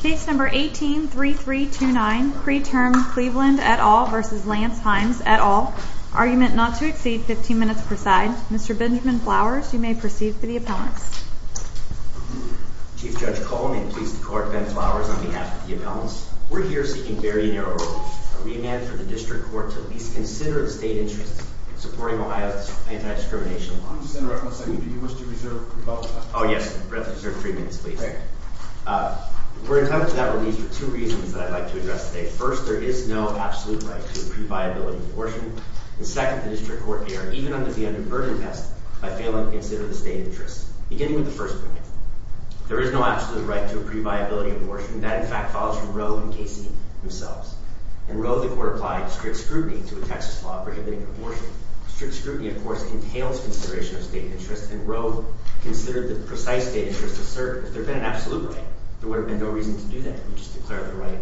Case No. 18-3329, Preterm-Cleveland et al. v. Lance Himes et al. Argument not to exceed 15 minutes per side. Mr. Benjamin Flowers, you may proceed for the appellants. Chief Judge Cullen, and pleased to court, Ben Flowers on behalf of the appellants. We're here seeking very narrow rules. A remand for the district court to at least consider the state interest in supporting Ohio's anti-discrimination law. I'm just going to reference that you do wish to reserve three minutes. Oh yes, I'd rather reserve three minutes, please. We're entitled to that release for two reasons that I'd like to address today. First, there is no absolute right to a pre-viability abortion. And second, the district court may or may not be under a burden test by failing to consider the state interest. Beginning with the first point, there is no absolute right to a pre-viability abortion. That, in fact, follows from Roe and Casey themselves. In Roe, the court applied strict scrutiny to a Texas law prohibiting abortion. Strict scrutiny, of course, entails consideration of state interest. And Roe considered the precise state interest asserted. If there had been an absolute right, there would have been no reason to do that. You just declare the right,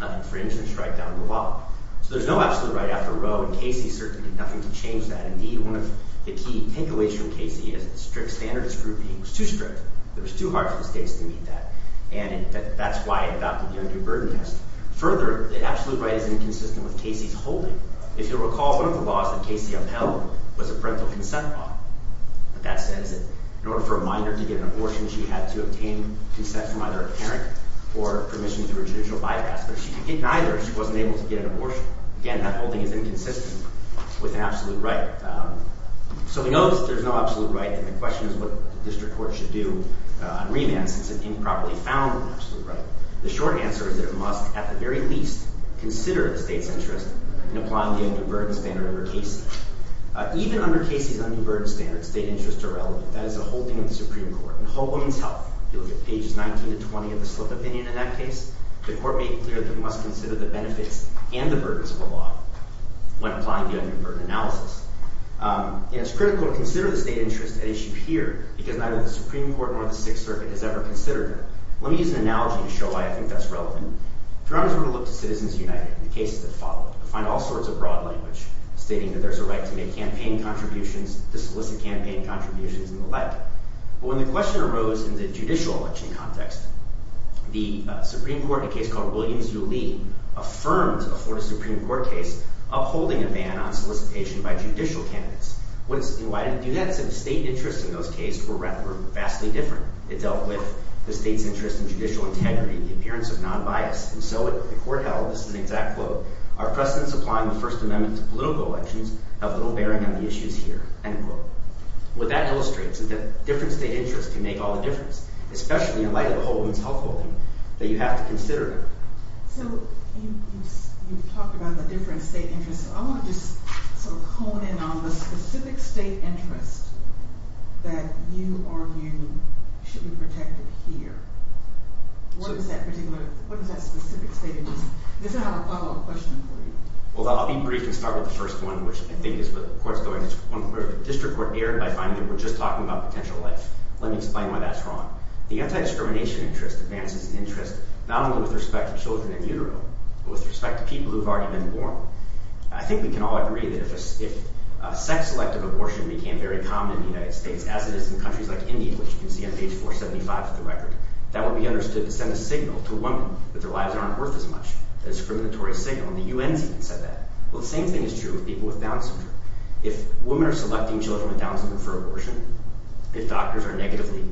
nothing fringe, and strike down the law. So there's no absolute right after Roe and Casey, certainly nothing to change that. Indeed, one of the key takeaways from Casey is strict standard of scrutiny was too strict. It was too hard for the states to meet that. And that's why it adopted the under-burden test. Further, the absolute right is inconsistent with Casey's holding. If you'll recall, one of the laws that Casey upheld was a parental consent law. That says that in order for a minor to get an abortion, she had to obtain consent from either a parent or permission through a judicial bypass. But if she could get neither, she wasn't able to get an abortion. Again, that holding is inconsistent with an absolute right. So we know there's no absolute right, and the question is what the district court should do on remand since it improperly found an absolute right. The short answer is that it must, at the very least, consider the state's interest in applying the under-burden standard under Casey. Even under Casey's under-burden standard, state interests are relevant. That is the holding of the Supreme Court. In Hope Women's Health, if you look at pages 19 to 20 of the slip opinion in that case, the court made clear that it must consider the benefits and the burdens of the law when applying the under-burden analysis. And it's critical to consider the state interest at issue here because neither the Supreme Court nor the Sixth Circuit has ever considered that. Let me use an analogy to show why I think that's relevant. If you remember, we looked at Citizens United and the cases that followed. We find all sorts of broad language stating that there's a right to make campaign contributions, to solicit campaign contributions, and the like. But when the question arose in the judicial election context, the Supreme Court, in a case called Williams v. Lee, affirmed before the Supreme Court case upholding a ban on solicitation by judicial candidates. Why did it do that? Because the state interests in those cases were vastly different. It dealt with the state's interest in judicial integrity, the appearance of non-bias. And so the court held, this is an exact quote, our precedents applying the First Amendment to political elections have little bearing on the issues here, end quote. What that illustrates is that different state interests can make all the difference, especially in light of the Holden's health holding, that you have to consider. So you've talked about the different state interests. I want to just sort of hone in on the specific state interest that you argue should be protected here. What is that specific state interest? Does that have a follow-up question for you? Well, I'll be brief and start with the first one, which I think is where the court's going. It's one where the district court erred by finding that we're just talking about potential life. Let me explain why that's wrong. The anti-discrimination interest advances interest not only with respect to children in utero, but with respect to people who have already been born. I think we can all agree that if sex-selective abortion became very common in the United States, as it is in countries like India, which you can see on page 475 of the record, that would be understood to send a signal to a woman that their lives aren't worth as much, a discriminatory signal, and the UN's even said that. Well, the same thing is true with people with Down syndrome. If women are selecting children with Down syndrome for abortion, if doctors are negatively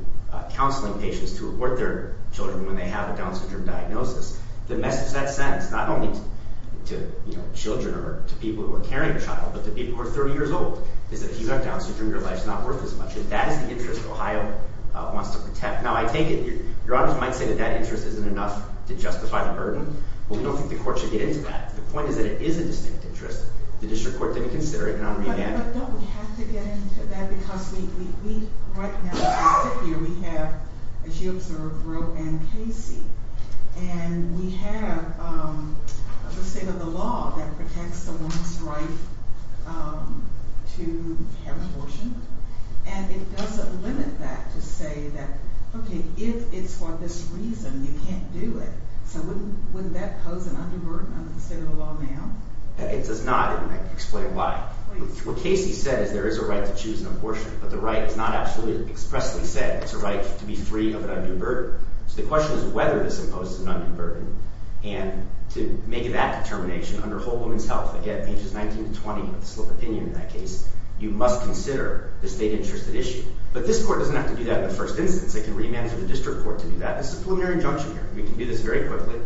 counseling patients to abort their children when they have a Down syndrome diagnosis, the message that sends not only to children or to people who are carrying a child, but to people who are 30 years old, is that if you've got Down syndrome, your life's not worth as much. That is the interest Ohio wants to protect. Now, I take it, Your Honors might say that that interest isn't enough to justify the burden. Well, we don't think the Court should get into that. The point is that it is a distinct interest. The District Court didn't consider it, and I'll read it again. But don't we have to get into that? Because we, right now, as we sit here, we have, as you observed, Roe and Casey. And we have the state of the law that protects a woman's right to have abortion. And it doesn't limit that to say that, okay, if it's for this reason, you can't do it. So wouldn't that pose an undue burden under the state of the law now? It does not, and I can explain why. What Casey said is there is a right to choose an abortion, but the right is not absolutely expressly said. It's a right to be free of an undue burden. So the question is whether this imposes an undue burden. And to make that determination, under Whole Woman's Health, again, pages 19 to 20, with the slip of opinion in that case, you must consider the state-interested issue. But this court doesn't have to do that in the first instance. They can remand it to the District Court to do that. This is a preliminary injunction here. We can do this very quickly.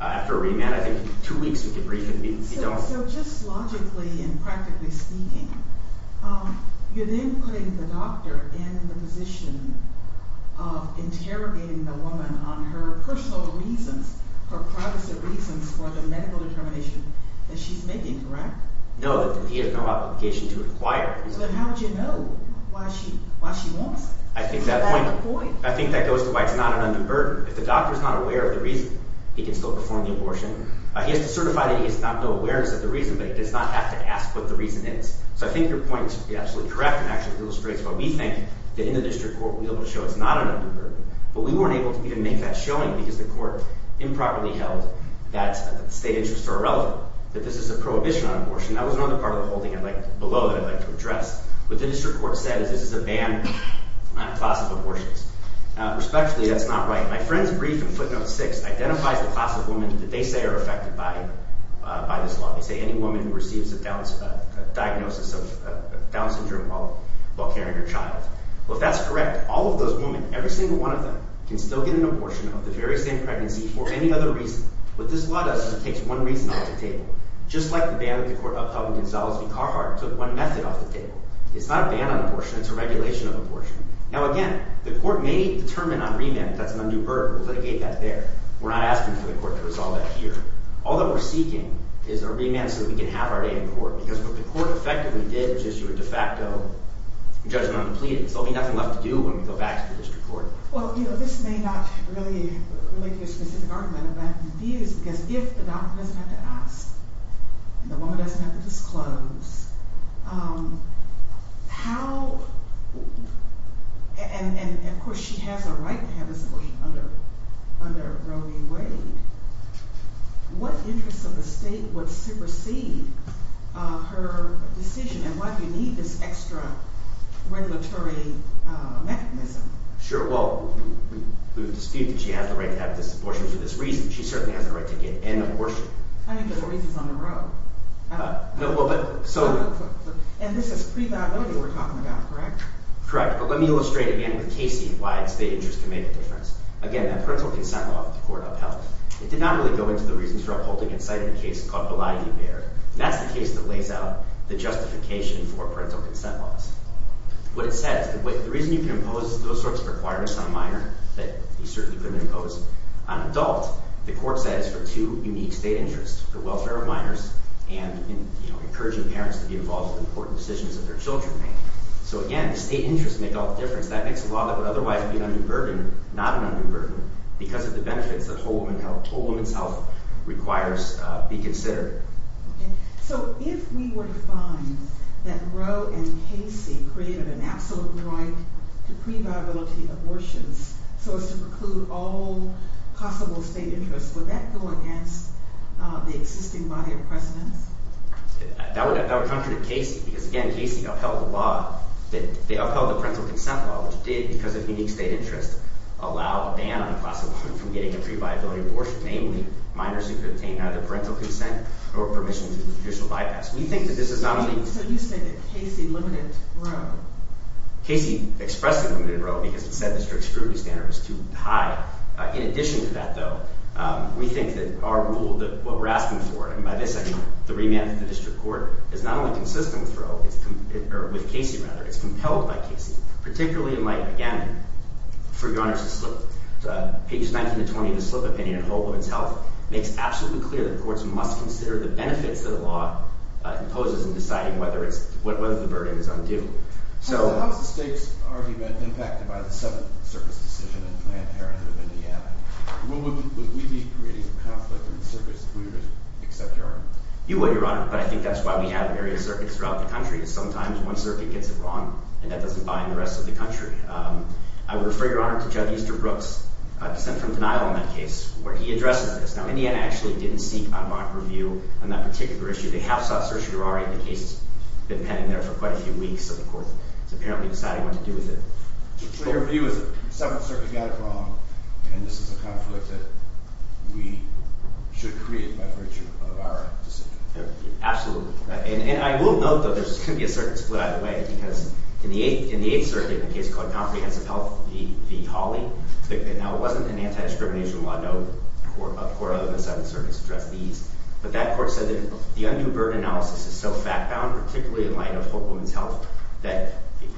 After a remand, I think two weeks, we can brief and be done. So just logically and practically speaking, you're then putting the doctor in the position of interrogating the woman on her personal reasons, her privacy reasons for the medical determination that she's making, correct? No, that he has no obligation to inquire. But how would you know why she wants to have the boy? I think that goes to why it's not an undue burden. If the doctor is not aware of the reason, he can still perform the abortion. He has to certify that he has no awareness of the reason, but he does not have to ask what the reason is. So I think your point is absolutely correct and actually illustrates why we think that in the District Court we'll be able to show it's not an undue burden. But we weren't able to even make that showing because the court improperly held that state interests are irrelevant, that this is a prohibition on abortion. That was another part of the holding below that I'd like to address. What the District Court said is this is a ban on class of abortions. Respectfully, that's not right. My friend's brief in footnote 6 identifies the class of women that they say are affected by this law. They say any woman who receives a diagnosis of Down syndrome while carrying her child. Well, if that's correct, all of those women, every single one of them, can still get an abortion of the very same pregnancy for any other reason. What this law does is it takes one reason off the table. Just like the ban that the court upheld when Gonzales v. Carhart took one method off the table. It's not a ban on abortion. It's a regulation of abortion. Now, again, the court may determine on remand if that's an undue burden. We'll litigate that there. We're not asking for the court to resolve that here. All that we're seeking is a remand so that we can have our day in court because what the court effectively did was issue a de facto judgment on the pleadings. There'll be nothing left to do when we go back to the District Court. Well, you know, this may not really be a specific argument, but I'm confused because if the doctor doesn't have to ask and the woman doesn't have to disclose, how – and, of course, she has a right to have an abortion under Roe v. Wade. What interest of the state would supersede her decision and why do you need this extra regulatory mechanism? Sure. Well, we dispute that she has the right to have this abortion for this reason. She certainly has the right to get an abortion. I mean, but the reason's on the Roe. No, well, but – And this is pre-violated we're talking about, correct? Correct. But let me illustrate again with Casey why it's the interest to make a difference. Again, that parental consent law that the court upheld, it did not really go into the reasons for upholding in sight of the case called Biladi-Bear. That's the case that lays out the justification for parental consent laws. What it says, the reason you can impose those sorts of requirements on a minor that you certainly couldn't impose on an adult, the court says for two unique state interests, the welfare of minors and encouraging parents to be involved in important decisions that their children make. So, again, the state interests make all the difference. That makes a law that would otherwise be an undue burden not an undue burden because of the benefits that whole woman's health requires be considered. Okay. So if we were to find that Roe and Casey created an absolute right to pre-viability abortions so as to preclude all possible state interests, would that go against the existing body of precedence? That would contradict Casey because, again, Casey upheld the law that – they upheld the parental consent law, which did, because of unique state interests, allow a ban on the class of a woman from getting a pre-viability abortion, namely minors who could obtain either parental consent or permission to do judicial bypass. We think that this is not only – So you say that Casey limited Roe? Casey expressed a limited Roe because it said the district's cruelty standard was too high. In addition to that, though, we think that our rule, what we're asking for, and by this I mean the remand to the district court, is not only consistent with Roe – or with Casey, rather. It's compelled by Casey, particularly in light, again, for your honors to slip, page 19 to 20 of the slip opinion, a whole woman's health, makes absolutely clear that courts must consider the benefits that a law imposes in deciding whether it's – whether the burden is undue. How has the state's argument impacted by the Seventh Circuit's decision in Planned Parenthood of Indiana? Would we be creating a conflict in the circuit if we were to accept your honor? You would, your honor, but I think that's why we have various circuits throughout the country. Sometimes one circuit gets it wrong and that doesn't bind the rest of the country. I would refer your honor to Judge Easterbrook's dissent from denial in that case, where he addresses this. Now, Indiana actually didn't seek unmarked review on that particular issue. They have sought certiorari, and the case has been pending there for quite a few weeks, so the court has apparently decided what to do with it. So your view is that the Seventh Circuit got it wrong, and this is a conflict that we should create by virtue of our decision? Absolutely. And I will note, though, there's going to be a certain split either way, because in the Eighth Circuit, in a case called Comprehensive Health v. Hawley, now it wasn't an anti-discrimination law. No court other than the Seventh Circuit has addressed these. But that court said that the undue burden analysis is so fact-bound, particularly in light of Hope Woman's health, that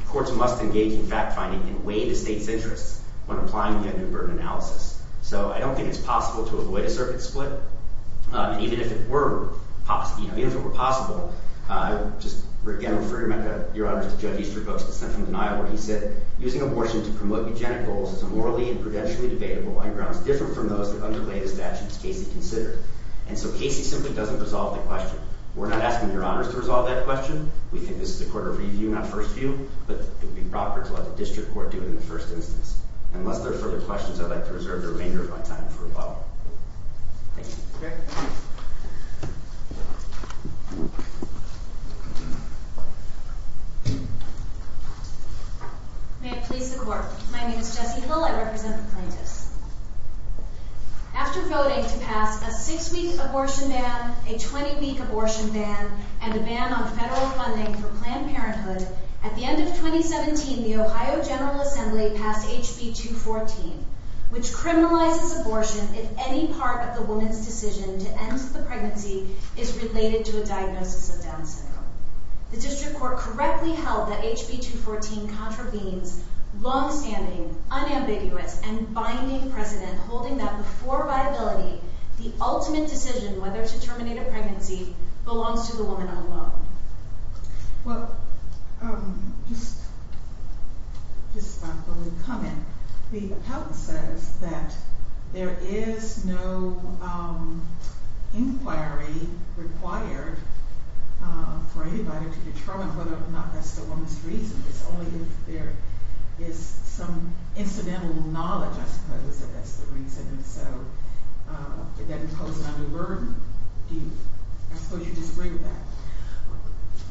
courts must engage in fact-finding and weigh the state's interests when applying the undue burden analysis. So I don't think it's possible to avoid a circuit split. And even if it were possible, I would just again refer your honors to Judge Easterbrook's dissent from denial where he said, Using abortion to promote eugenic goals is a morally and prudentially debatable on grounds different from those that underlay the statutes Casey considered. And so Casey simply doesn't resolve the question. We're not asking your honors to resolve that question. We think this is a court of review, not first view, but it would be proper to let the district court do it in the first instance. Unless there are further questions, I'd like to reserve the remainder of my time for a while. Thank you. May it please the Court. My name is Jessie Lill. I represent the plaintiffs. After voting to pass a six-week abortion ban, a 20-week abortion ban, and a ban on federal funding for Planned Parenthood, at the end of 2017, the Ohio General Assembly passed HB 214, which criminalizes abortion if any part of the woman's decision to end the pregnancy is related to a diagnosis of Down syndrome. The district court correctly held that HB 214 contravenes long-standing, unambiguous, and binding precedent, holding that before viability, the ultimate decision whether to terminate a pregnancy belongs to the woman alone. Well, just a comment. The appellant says that there is no inquiry required for anybody to determine whether or not that's the woman's reason. It's only if there is some incidental knowledge, I suppose, that that's the reason. And so, did that impose a new burden? I suppose you disagree with that.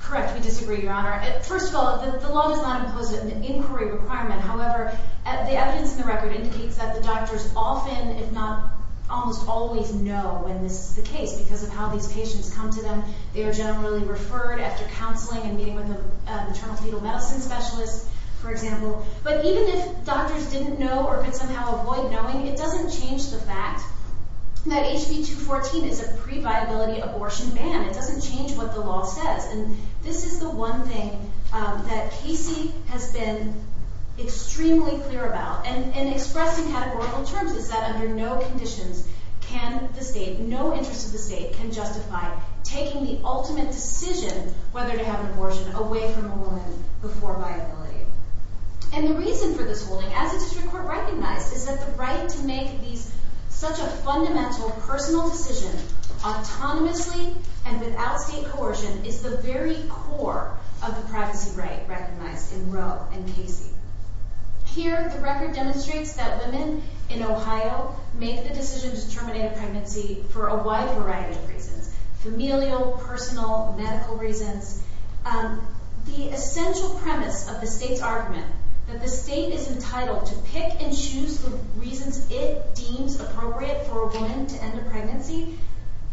Correct. We disagree, Your Honor. First of all, the law does not impose an inquiry requirement. However, the evidence in the record indicates that the doctors often, if not almost always, know when this is the case because of how these patients come to them. They are generally referred after counseling and meeting with an internal fetal medicine specialist, for example. But even if doctors didn't know or could somehow avoid knowing, it doesn't change the fact that HB 214 is a pre-viability abortion ban. It doesn't change what the law says. And this is the one thing that Casey has been extremely clear about and expressed in categorical terms, is that under no conditions can the state, no interest of the state, can justify taking the ultimate decision whether to have an abortion away from a woman before viability. And the reason for this holding, as the district court recognized, is that the right to make such a fundamental personal decision autonomously and without state coercion is the very core of the privacy right recognized in Roe and Casey. Here, the record demonstrates that women in Ohio make the decision to terminate a pregnancy for a wide variety of reasons, familial, personal, medical reasons. The essential premise of the state's argument, that the state is entitled to pick and choose the reasons it deems appropriate for a woman to end a pregnancy,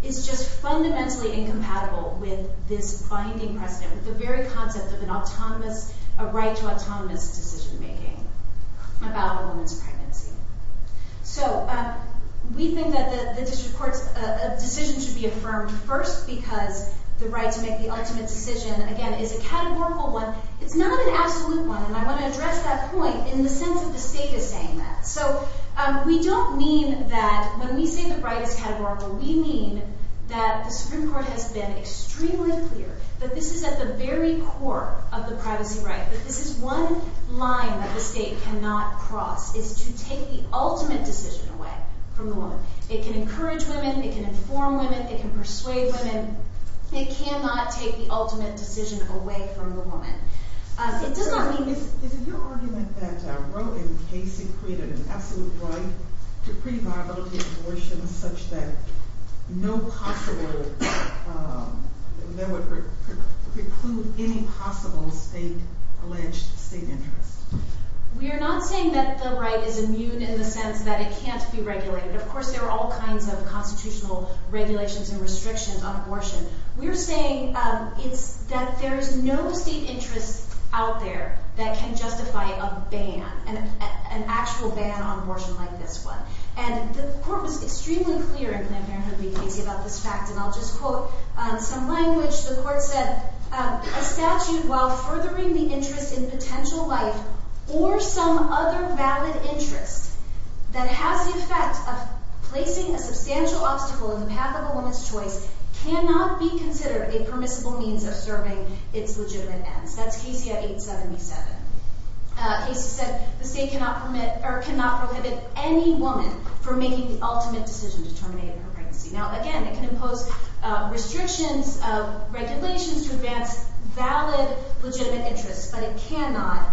is just fundamentally incompatible with this binding precedent, with the very concept of a right to autonomous decision-making about a woman's pregnancy. So, we think that the district court's decision should be affirmed first because the right to make the ultimate decision, again, is a categorical one. It's not an absolute one, and I want to address that point in the sense that the state is saying that. So, we don't mean that when we say the right is categorical, we mean that the Supreme Court has been extremely clear that this is at the very core of the privacy right, that this is one line that the state cannot cross, is to take the ultimate decision away from the woman. It can encourage women, it can inform women, it can persuade women. It cannot take the ultimate decision away from the woman. It does not mean... Is it your argument that Roe and Casey created an absolute right to pre-violate abortion, such that no possible... that would preclude any possible state-alleged state interest? We are not saying that the right is immune in the sense that it can't be regulated. Of course, there are all kinds of constitutional regulations and restrictions on abortion. We're saying that there is no state interest out there that can justify a ban, an actual ban on abortion like this one. And the court was extremely clear in Planned Parenthood v. Casey about this fact, and I'll just quote some language. The court said, A statute while furthering the interest in potential life or some other valid interest that has the effect of placing a substantial obstacle in the path of a woman's choice cannot be considered a permissible means of serving its legitimate ends. That's Casey at 877. Casey said, The state cannot prohibit any woman from making the ultimate decision to terminate her pregnancy. Now, again, it can impose restrictions, regulations to advance valid, legitimate interests, but it cannot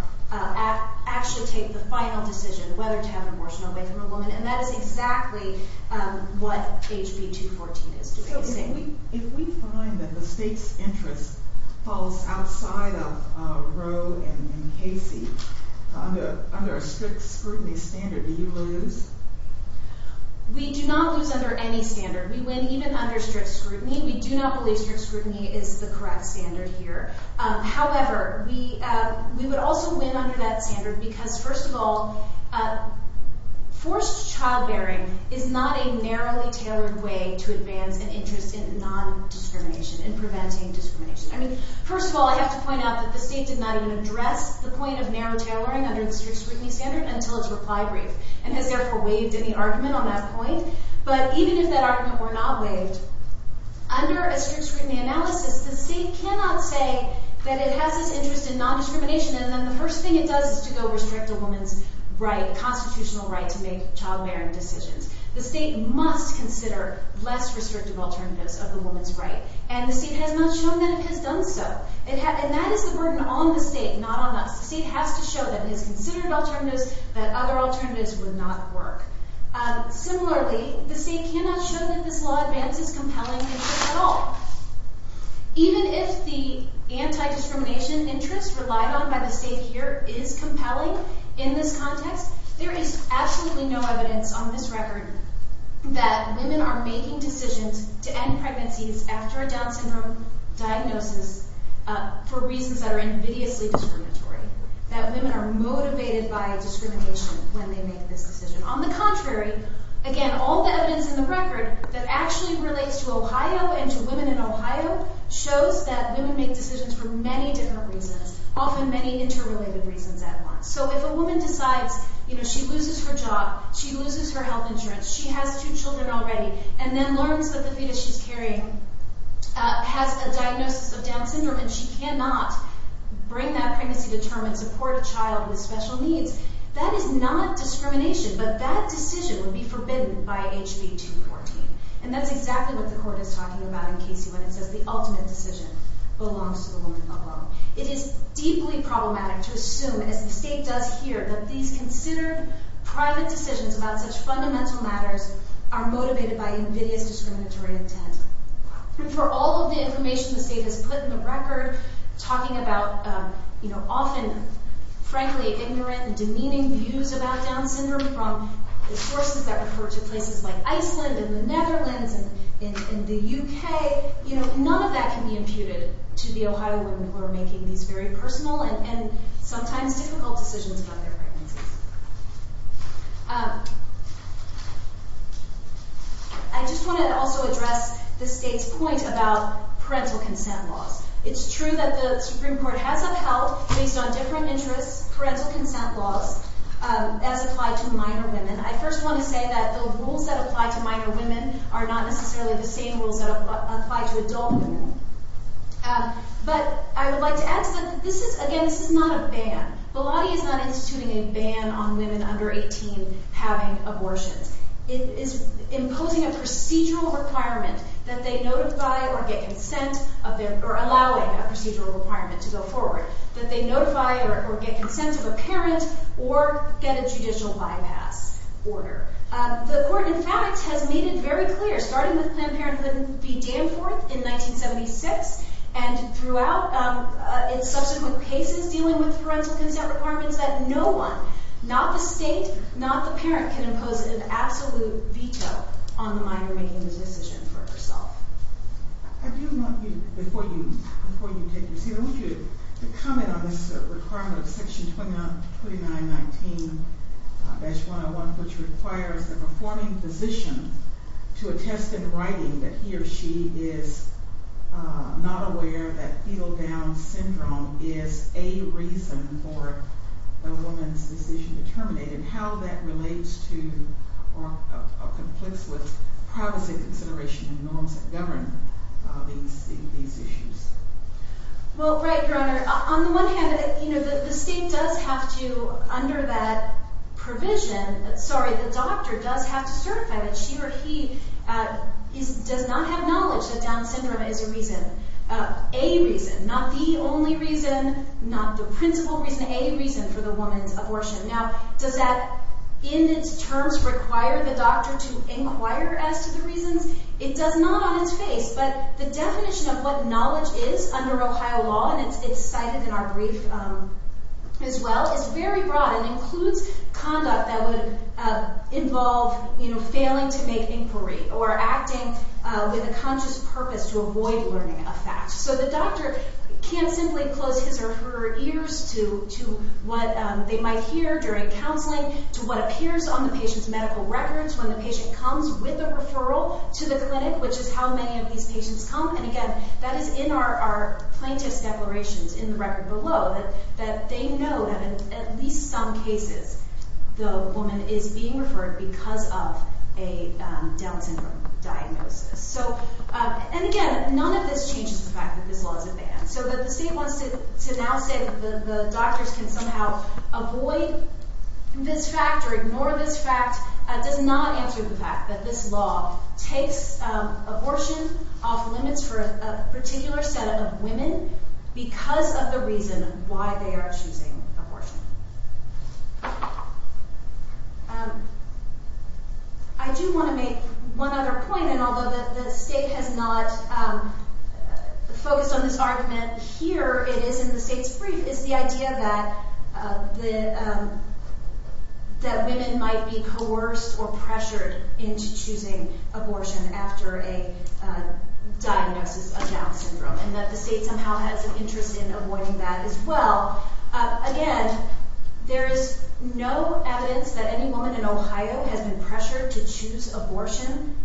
actually take the final decision whether to have an abortion away from a woman, and that is exactly what HB 214 is doing. So if we find that the state's interest falls outside of Roe and Casey, under a strict scrutiny standard, do you lose? We do not lose under any standard. We win even under strict scrutiny. We do not believe strict scrutiny is the correct standard here. However, we would also win under that standard because, first of all, forced childbearing is not a narrowly tailored way to advance an interest in non-discrimination, in preventing discrimination. I mean, first of all, I have to point out that the state did not even address the point of narrow tailoring under the strict scrutiny standard until its reply brief and has therefore waived any argument on that point. But even if that argument were not waived, under a strict scrutiny analysis, the state cannot say that it has this interest in non-discrimination, and then the first thing it does is to go restrict a woman's right, constitutional right, to make childbearing decisions. The state must consider less restrictive alternatives of the woman's right, and the state has not shown that it has done so. And that is the burden on the state, not on us. The state has to show that it has considered alternatives, that other alternatives would not work. Similarly, the state cannot show that this law advances compelling interest at all. Even if the anti-discrimination interest relied on by the state here is compelling in this context, there is absolutely no evidence on this record that women are making decisions to end pregnancies after a Down syndrome diagnosis for reasons that are invidiously discriminatory, that women are motivated by discrimination when they make this decision. On the contrary, again, all the evidence in the record that actually relates to Ohio and to women in Ohio shows that women make decisions for many different reasons, often many interrelated reasons at once. So if a woman decides she loses her job, she loses her health insurance, she has two children already, and then learns that the fetus she's carrying has a diagnosis of Down syndrome and she cannot bring that pregnancy to term and support a child with special needs, that is not discrimination, but that decision would be forbidden by HB 214. And that's exactly what the Court is talking about in case when it says the ultimate decision belongs to the woman alone. It is deeply problematic to assume, as the state does here, that these considered private decisions about such fundamental matters are motivated by invidious discriminatory intent. For all of the information the state has put in the record, talking about, you know, often frankly ignorant and demeaning views about Down syndrome from the sources that refer to places like Iceland and the Netherlands and the UK, you know, none of that can be imputed to the Ohio women who are making these very personal and sometimes difficult decisions about their pregnancies. I just want to also address the state's point about parental consent laws. It's true that the Supreme Court has upheld, based on different interests, parental consent laws as applied to minor women. I first want to say that the rules that apply to minor women are not necessarily the same rules that apply to adult women. But I would like to add something. This is, again, this is not a ban. Biladi is not instituting a ban on women under 18 having abortions. It is imposing a procedural requirement that they notify or get consent of their, or allowing a procedural requirement to go forward, that they notify or get consent of a parent or get a judicial bypass order. The court, in fact, has made it very clear, starting with Planned Parenthood v. Danforth in 1976, and throughout in subsequent cases dealing with parental consent requirements, that no one, not the state, not the parent, can impose an absolute veto on the minor making this decision for herself. I do want you, before you take your seat, I want you to comment on this requirement of Section 2919-101, which requires the performing physician to attest in writing that he or she is not aware that fetal down syndrome is a reason for a woman's decision to terminate, and how that relates to or conflicts with privacy consideration and norms that govern these issues. Well, right, Your Honor. On the one hand, you know, the state does have to, under that provision, sorry, the doctor does have to certify that she or he does not have knowledge that down syndrome is a reason, a reason, not the only reason, not the principal reason, a reason for the woman's abortion. Now, does that in its terms require the doctor to inquire as to the reasons? It does not on its face, but the definition of what knowledge is under Ohio law, and it's cited in our brief as well, is very broad and includes conduct that would involve, you know, failing to make inquiry or acting with a conscious purpose to avoid learning a fact. So the doctor can't simply close his or her ears to what they might hear during counseling, to what appears on the patient's medical records when the patient comes with a referral to the clinic, which is how many of these patients come. And again, that is in our plaintiff's declarations in the record below, that they know that in at least some cases the woman is being referred because of a down syndrome diagnosis. So, and again, none of this changes the fact that this law is a ban. So that the state wants to now say that the doctors can somehow avoid this fact or ignore this fact does not answer the fact that this law takes abortion off limits for a particular set of women because of the reason why they are choosing abortion. I do want to make one other point, and although the state has not focused on this argument, here it is in the state's brief, is the idea that women might be coerced or pressured into choosing abortion after a diagnosis of down syndrome, and that the state somehow has an interest in avoiding that as well. Again, there is no evidence that any woman in Ohio has been pressured to choose abortion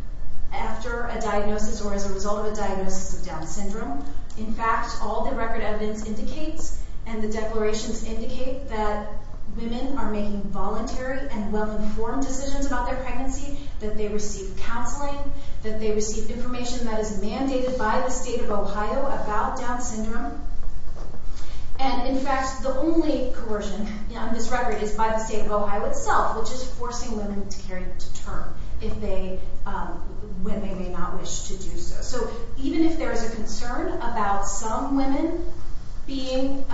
after a diagnosis or as a result of a diagnosis of down syndrome. In fact, all the record evidence indicates and the declarations indicate that women are making voluntary and well-informed decisions about their pregnancy, that they receive counseling, that they receive information that is mandated by the state of Ohio about down syndrome. And in fact, the only coercion on this record is by the state of Ohio itself, which is forcing women to carry it to term when they may not wish to do so. So even if there is a concern about some women being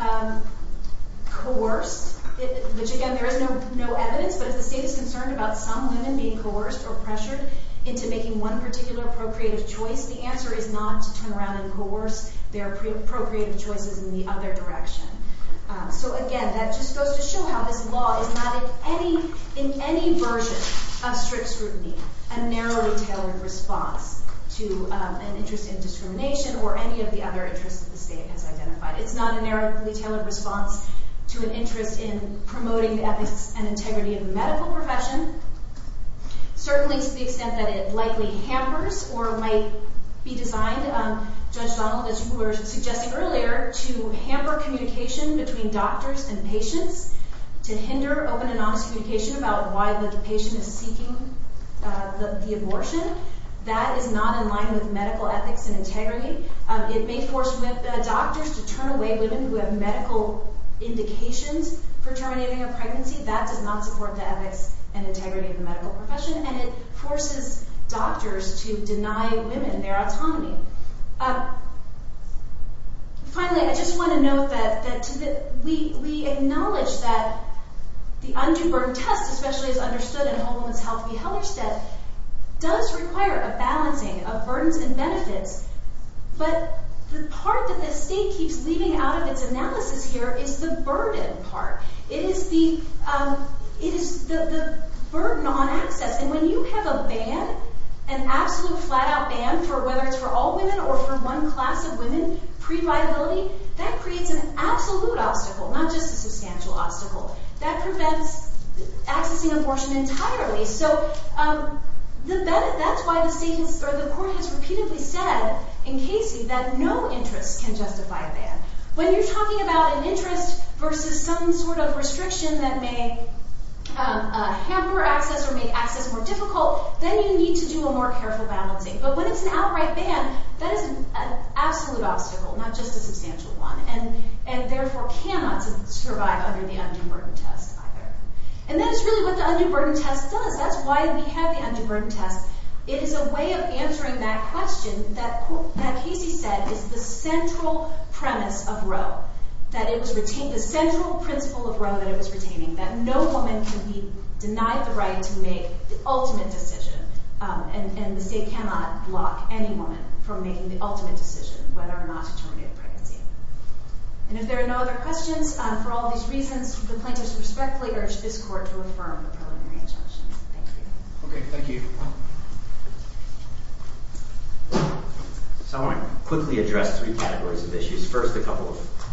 coerced, which again, there is no evidence, but if the state is concerned about some women being coerced or pressured into making one particular procreative choice, the answer is not to turn around and coerce their procreative choices in the other direction. So again, that just goes to show how this law is not in any version of strict scrutiny a narrowly tailored response to an interest in discrimination or any of the other interests that the state has identified. It's not a narrowly tailored response to an interest in promoting the ethics and integrity of the medical profession, certainly to the extent that it likely hampers or might be designed, Judge Donald, as you were suggesting earlier, to hamper communication between doctors and patients, to hinder open and honest communication about why the patient is seeking the abortion. That is not in line with medical ethics and integrity. It may force doctors to turn away women who have medical indications for terminating a pregnancy. That does not support the ethics and integrity of the medical profession, and it forces doctors to deny women their autonomy. Finally, I just want to note that we acknowledge that the undue burden test, especially as understood in Whole Woman's Health v. Hellerstedt, does require a balancing of burdens and benefits, but the part that the state keeps leaving out of its analysis here is the burden part. It is the burden on access, and when you have a ban, an absolute flat-out ban, whether it's for all women or for one class of women, pre-viability, that creates an absolute obstacle, not just a substantial obstacle. That prevents accessing abortion entirely. So that's why the court has repeatedly said in Casey that no interest can justify a ban. When you're talking about an interest versus some sort of restriction that may hamper access or make access more difficult, then you need to do a more careful balancing. But when it's an outright ban, that is an absolute obstacle, not just a substantial one, and therefore cannot survive under the undue burden test either. And that is really what the undue burden test does. That's why we have the undue burden test. It is a way of answering that question that Casey said is the central premise of Roe, the central principle of Roe that it was retaining, that no woman can be denied the right to make the ultimate decision, and the state cannot block any woman from making the ultimate decision whether or not to terminate a pregnancy. And if there are no other questions, for all these reasons, the plaintiffs respectfully urge this court to affirm the preliminary injunction. Thank you. Okay, thank you. So I want to quickly address three categories of issues. First, a couple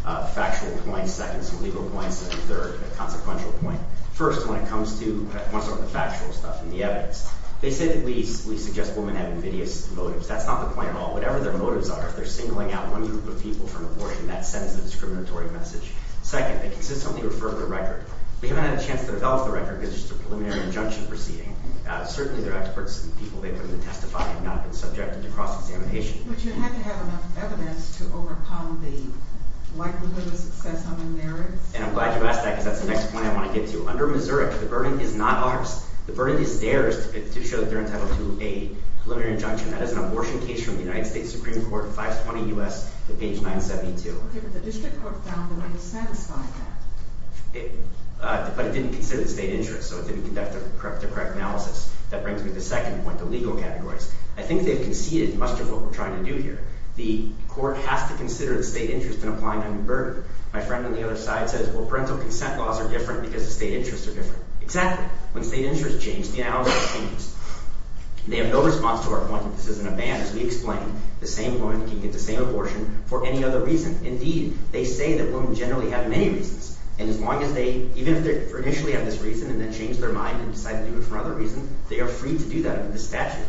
of factual points. Second, some legal points. And third, a consequential point. First, when it comes to the factual stuff and the evidence, they say that we suggest women have invidious motives. That's not the point at all. Whatever their motives are, if they're singling out one group of people for an abortion, that sends a discriminatory message. Second, they consistently refer to the record. We haven't had a chance to develop the record because it's just a preliminary injunction proceeding. Certainly, there are experts and people they've been able to testify have not been subjected to cross-examination. But you had to have enough evidence to overcome the likelihood of success on the merits? And I'm glad you asked that because that's the next point I want to get to. Under Missouri, the burden is not ours. The burden is theirs to show that they're entitled to a preliminary injunction. That is an abortion case from the United States Supreme Court, 520 U.S., to page 972. Okay, but the district court found that they satisfied that. But it didn't consider the state interest, so it didn't conduct the correct analysis. That brings me to the second point, the legal categories. I think they've conceded much of what we're trying to do here. The court has to consider the state interest in applying a new burden. My friend on the other side says, well, parental consent laws are different because the state interests are different. Exactly. When state interests change, the analysis changes. They have no response to our point that this isn't a ban, as we explained. The same woman can get the same abortion for any other reason. Indeed, they say that women generally have many reasons. And as long as they – even if they initially have this reason and then change their mind and decide to do it for another reason, they are free to do that under this statute.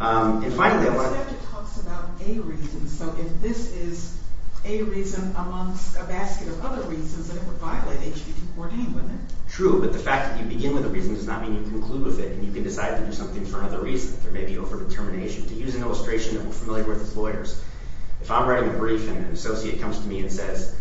And finally, I want to – But the statute talks about a reason. So if this is a reason amongst a basket of other reasons, then it would violate H.B. 214, wouldn't it? True, but the fact that you begin with a reason does not mean you conclude with it and you can decide to do something for another reason. There may be overdetermination. To use an illustration that we're familiar with as lawyers, if I'm writing a brief and an associate comes to me and says,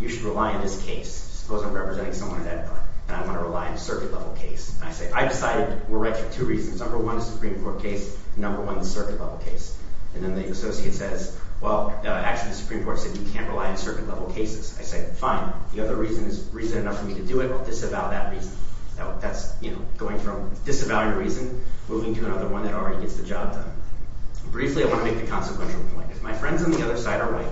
you should rely on this case. Suppose I'm representing someone at that time and I want to rely on a circuit-level case. And I say, I decided we're right for two reasons. Number one, the Supreme Court case. Number one, the circuit-level case. And then the associate says, well, actually, the Supreme Court said you can't rely on circuit-level cases. I say, fine. The other reason is reason enough for me to do it. I'll disavow that reason. That's going from disavowing a reason moving to another one that already gets the job done. Briefly, I want to make the consequential point. If my friends on the other side are right,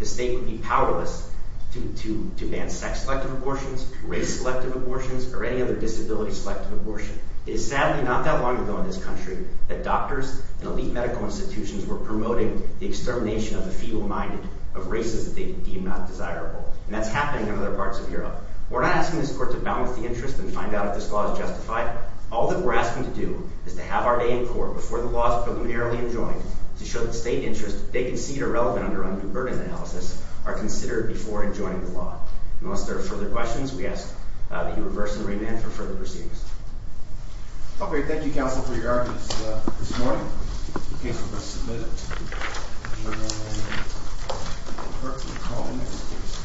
the state would be powerless to ban sex-selective abortions, race-selective abortions, or any other disability-selective abortion. It is sadly not that long ago in this country that doctors and elite medical institutions were promoting the extermination of the feeble-minded, of races that they deemed not desirable. And that's happening in other parts of Europe. We're not asking this court to balance the interest and find out if this law is justified. All that we're asking to do is to have our day in court before the law is preliminarily adjoined to show that state interests they concede are relevant under undue burden analysis are considered before adjoining the law. Unless there are further questions, we ask that you reverse and remand for further proceedings. Okay. Thank you, counsel, for your arguments this morning. The case will be submitted to the Attorney General and the clerk will call the next case.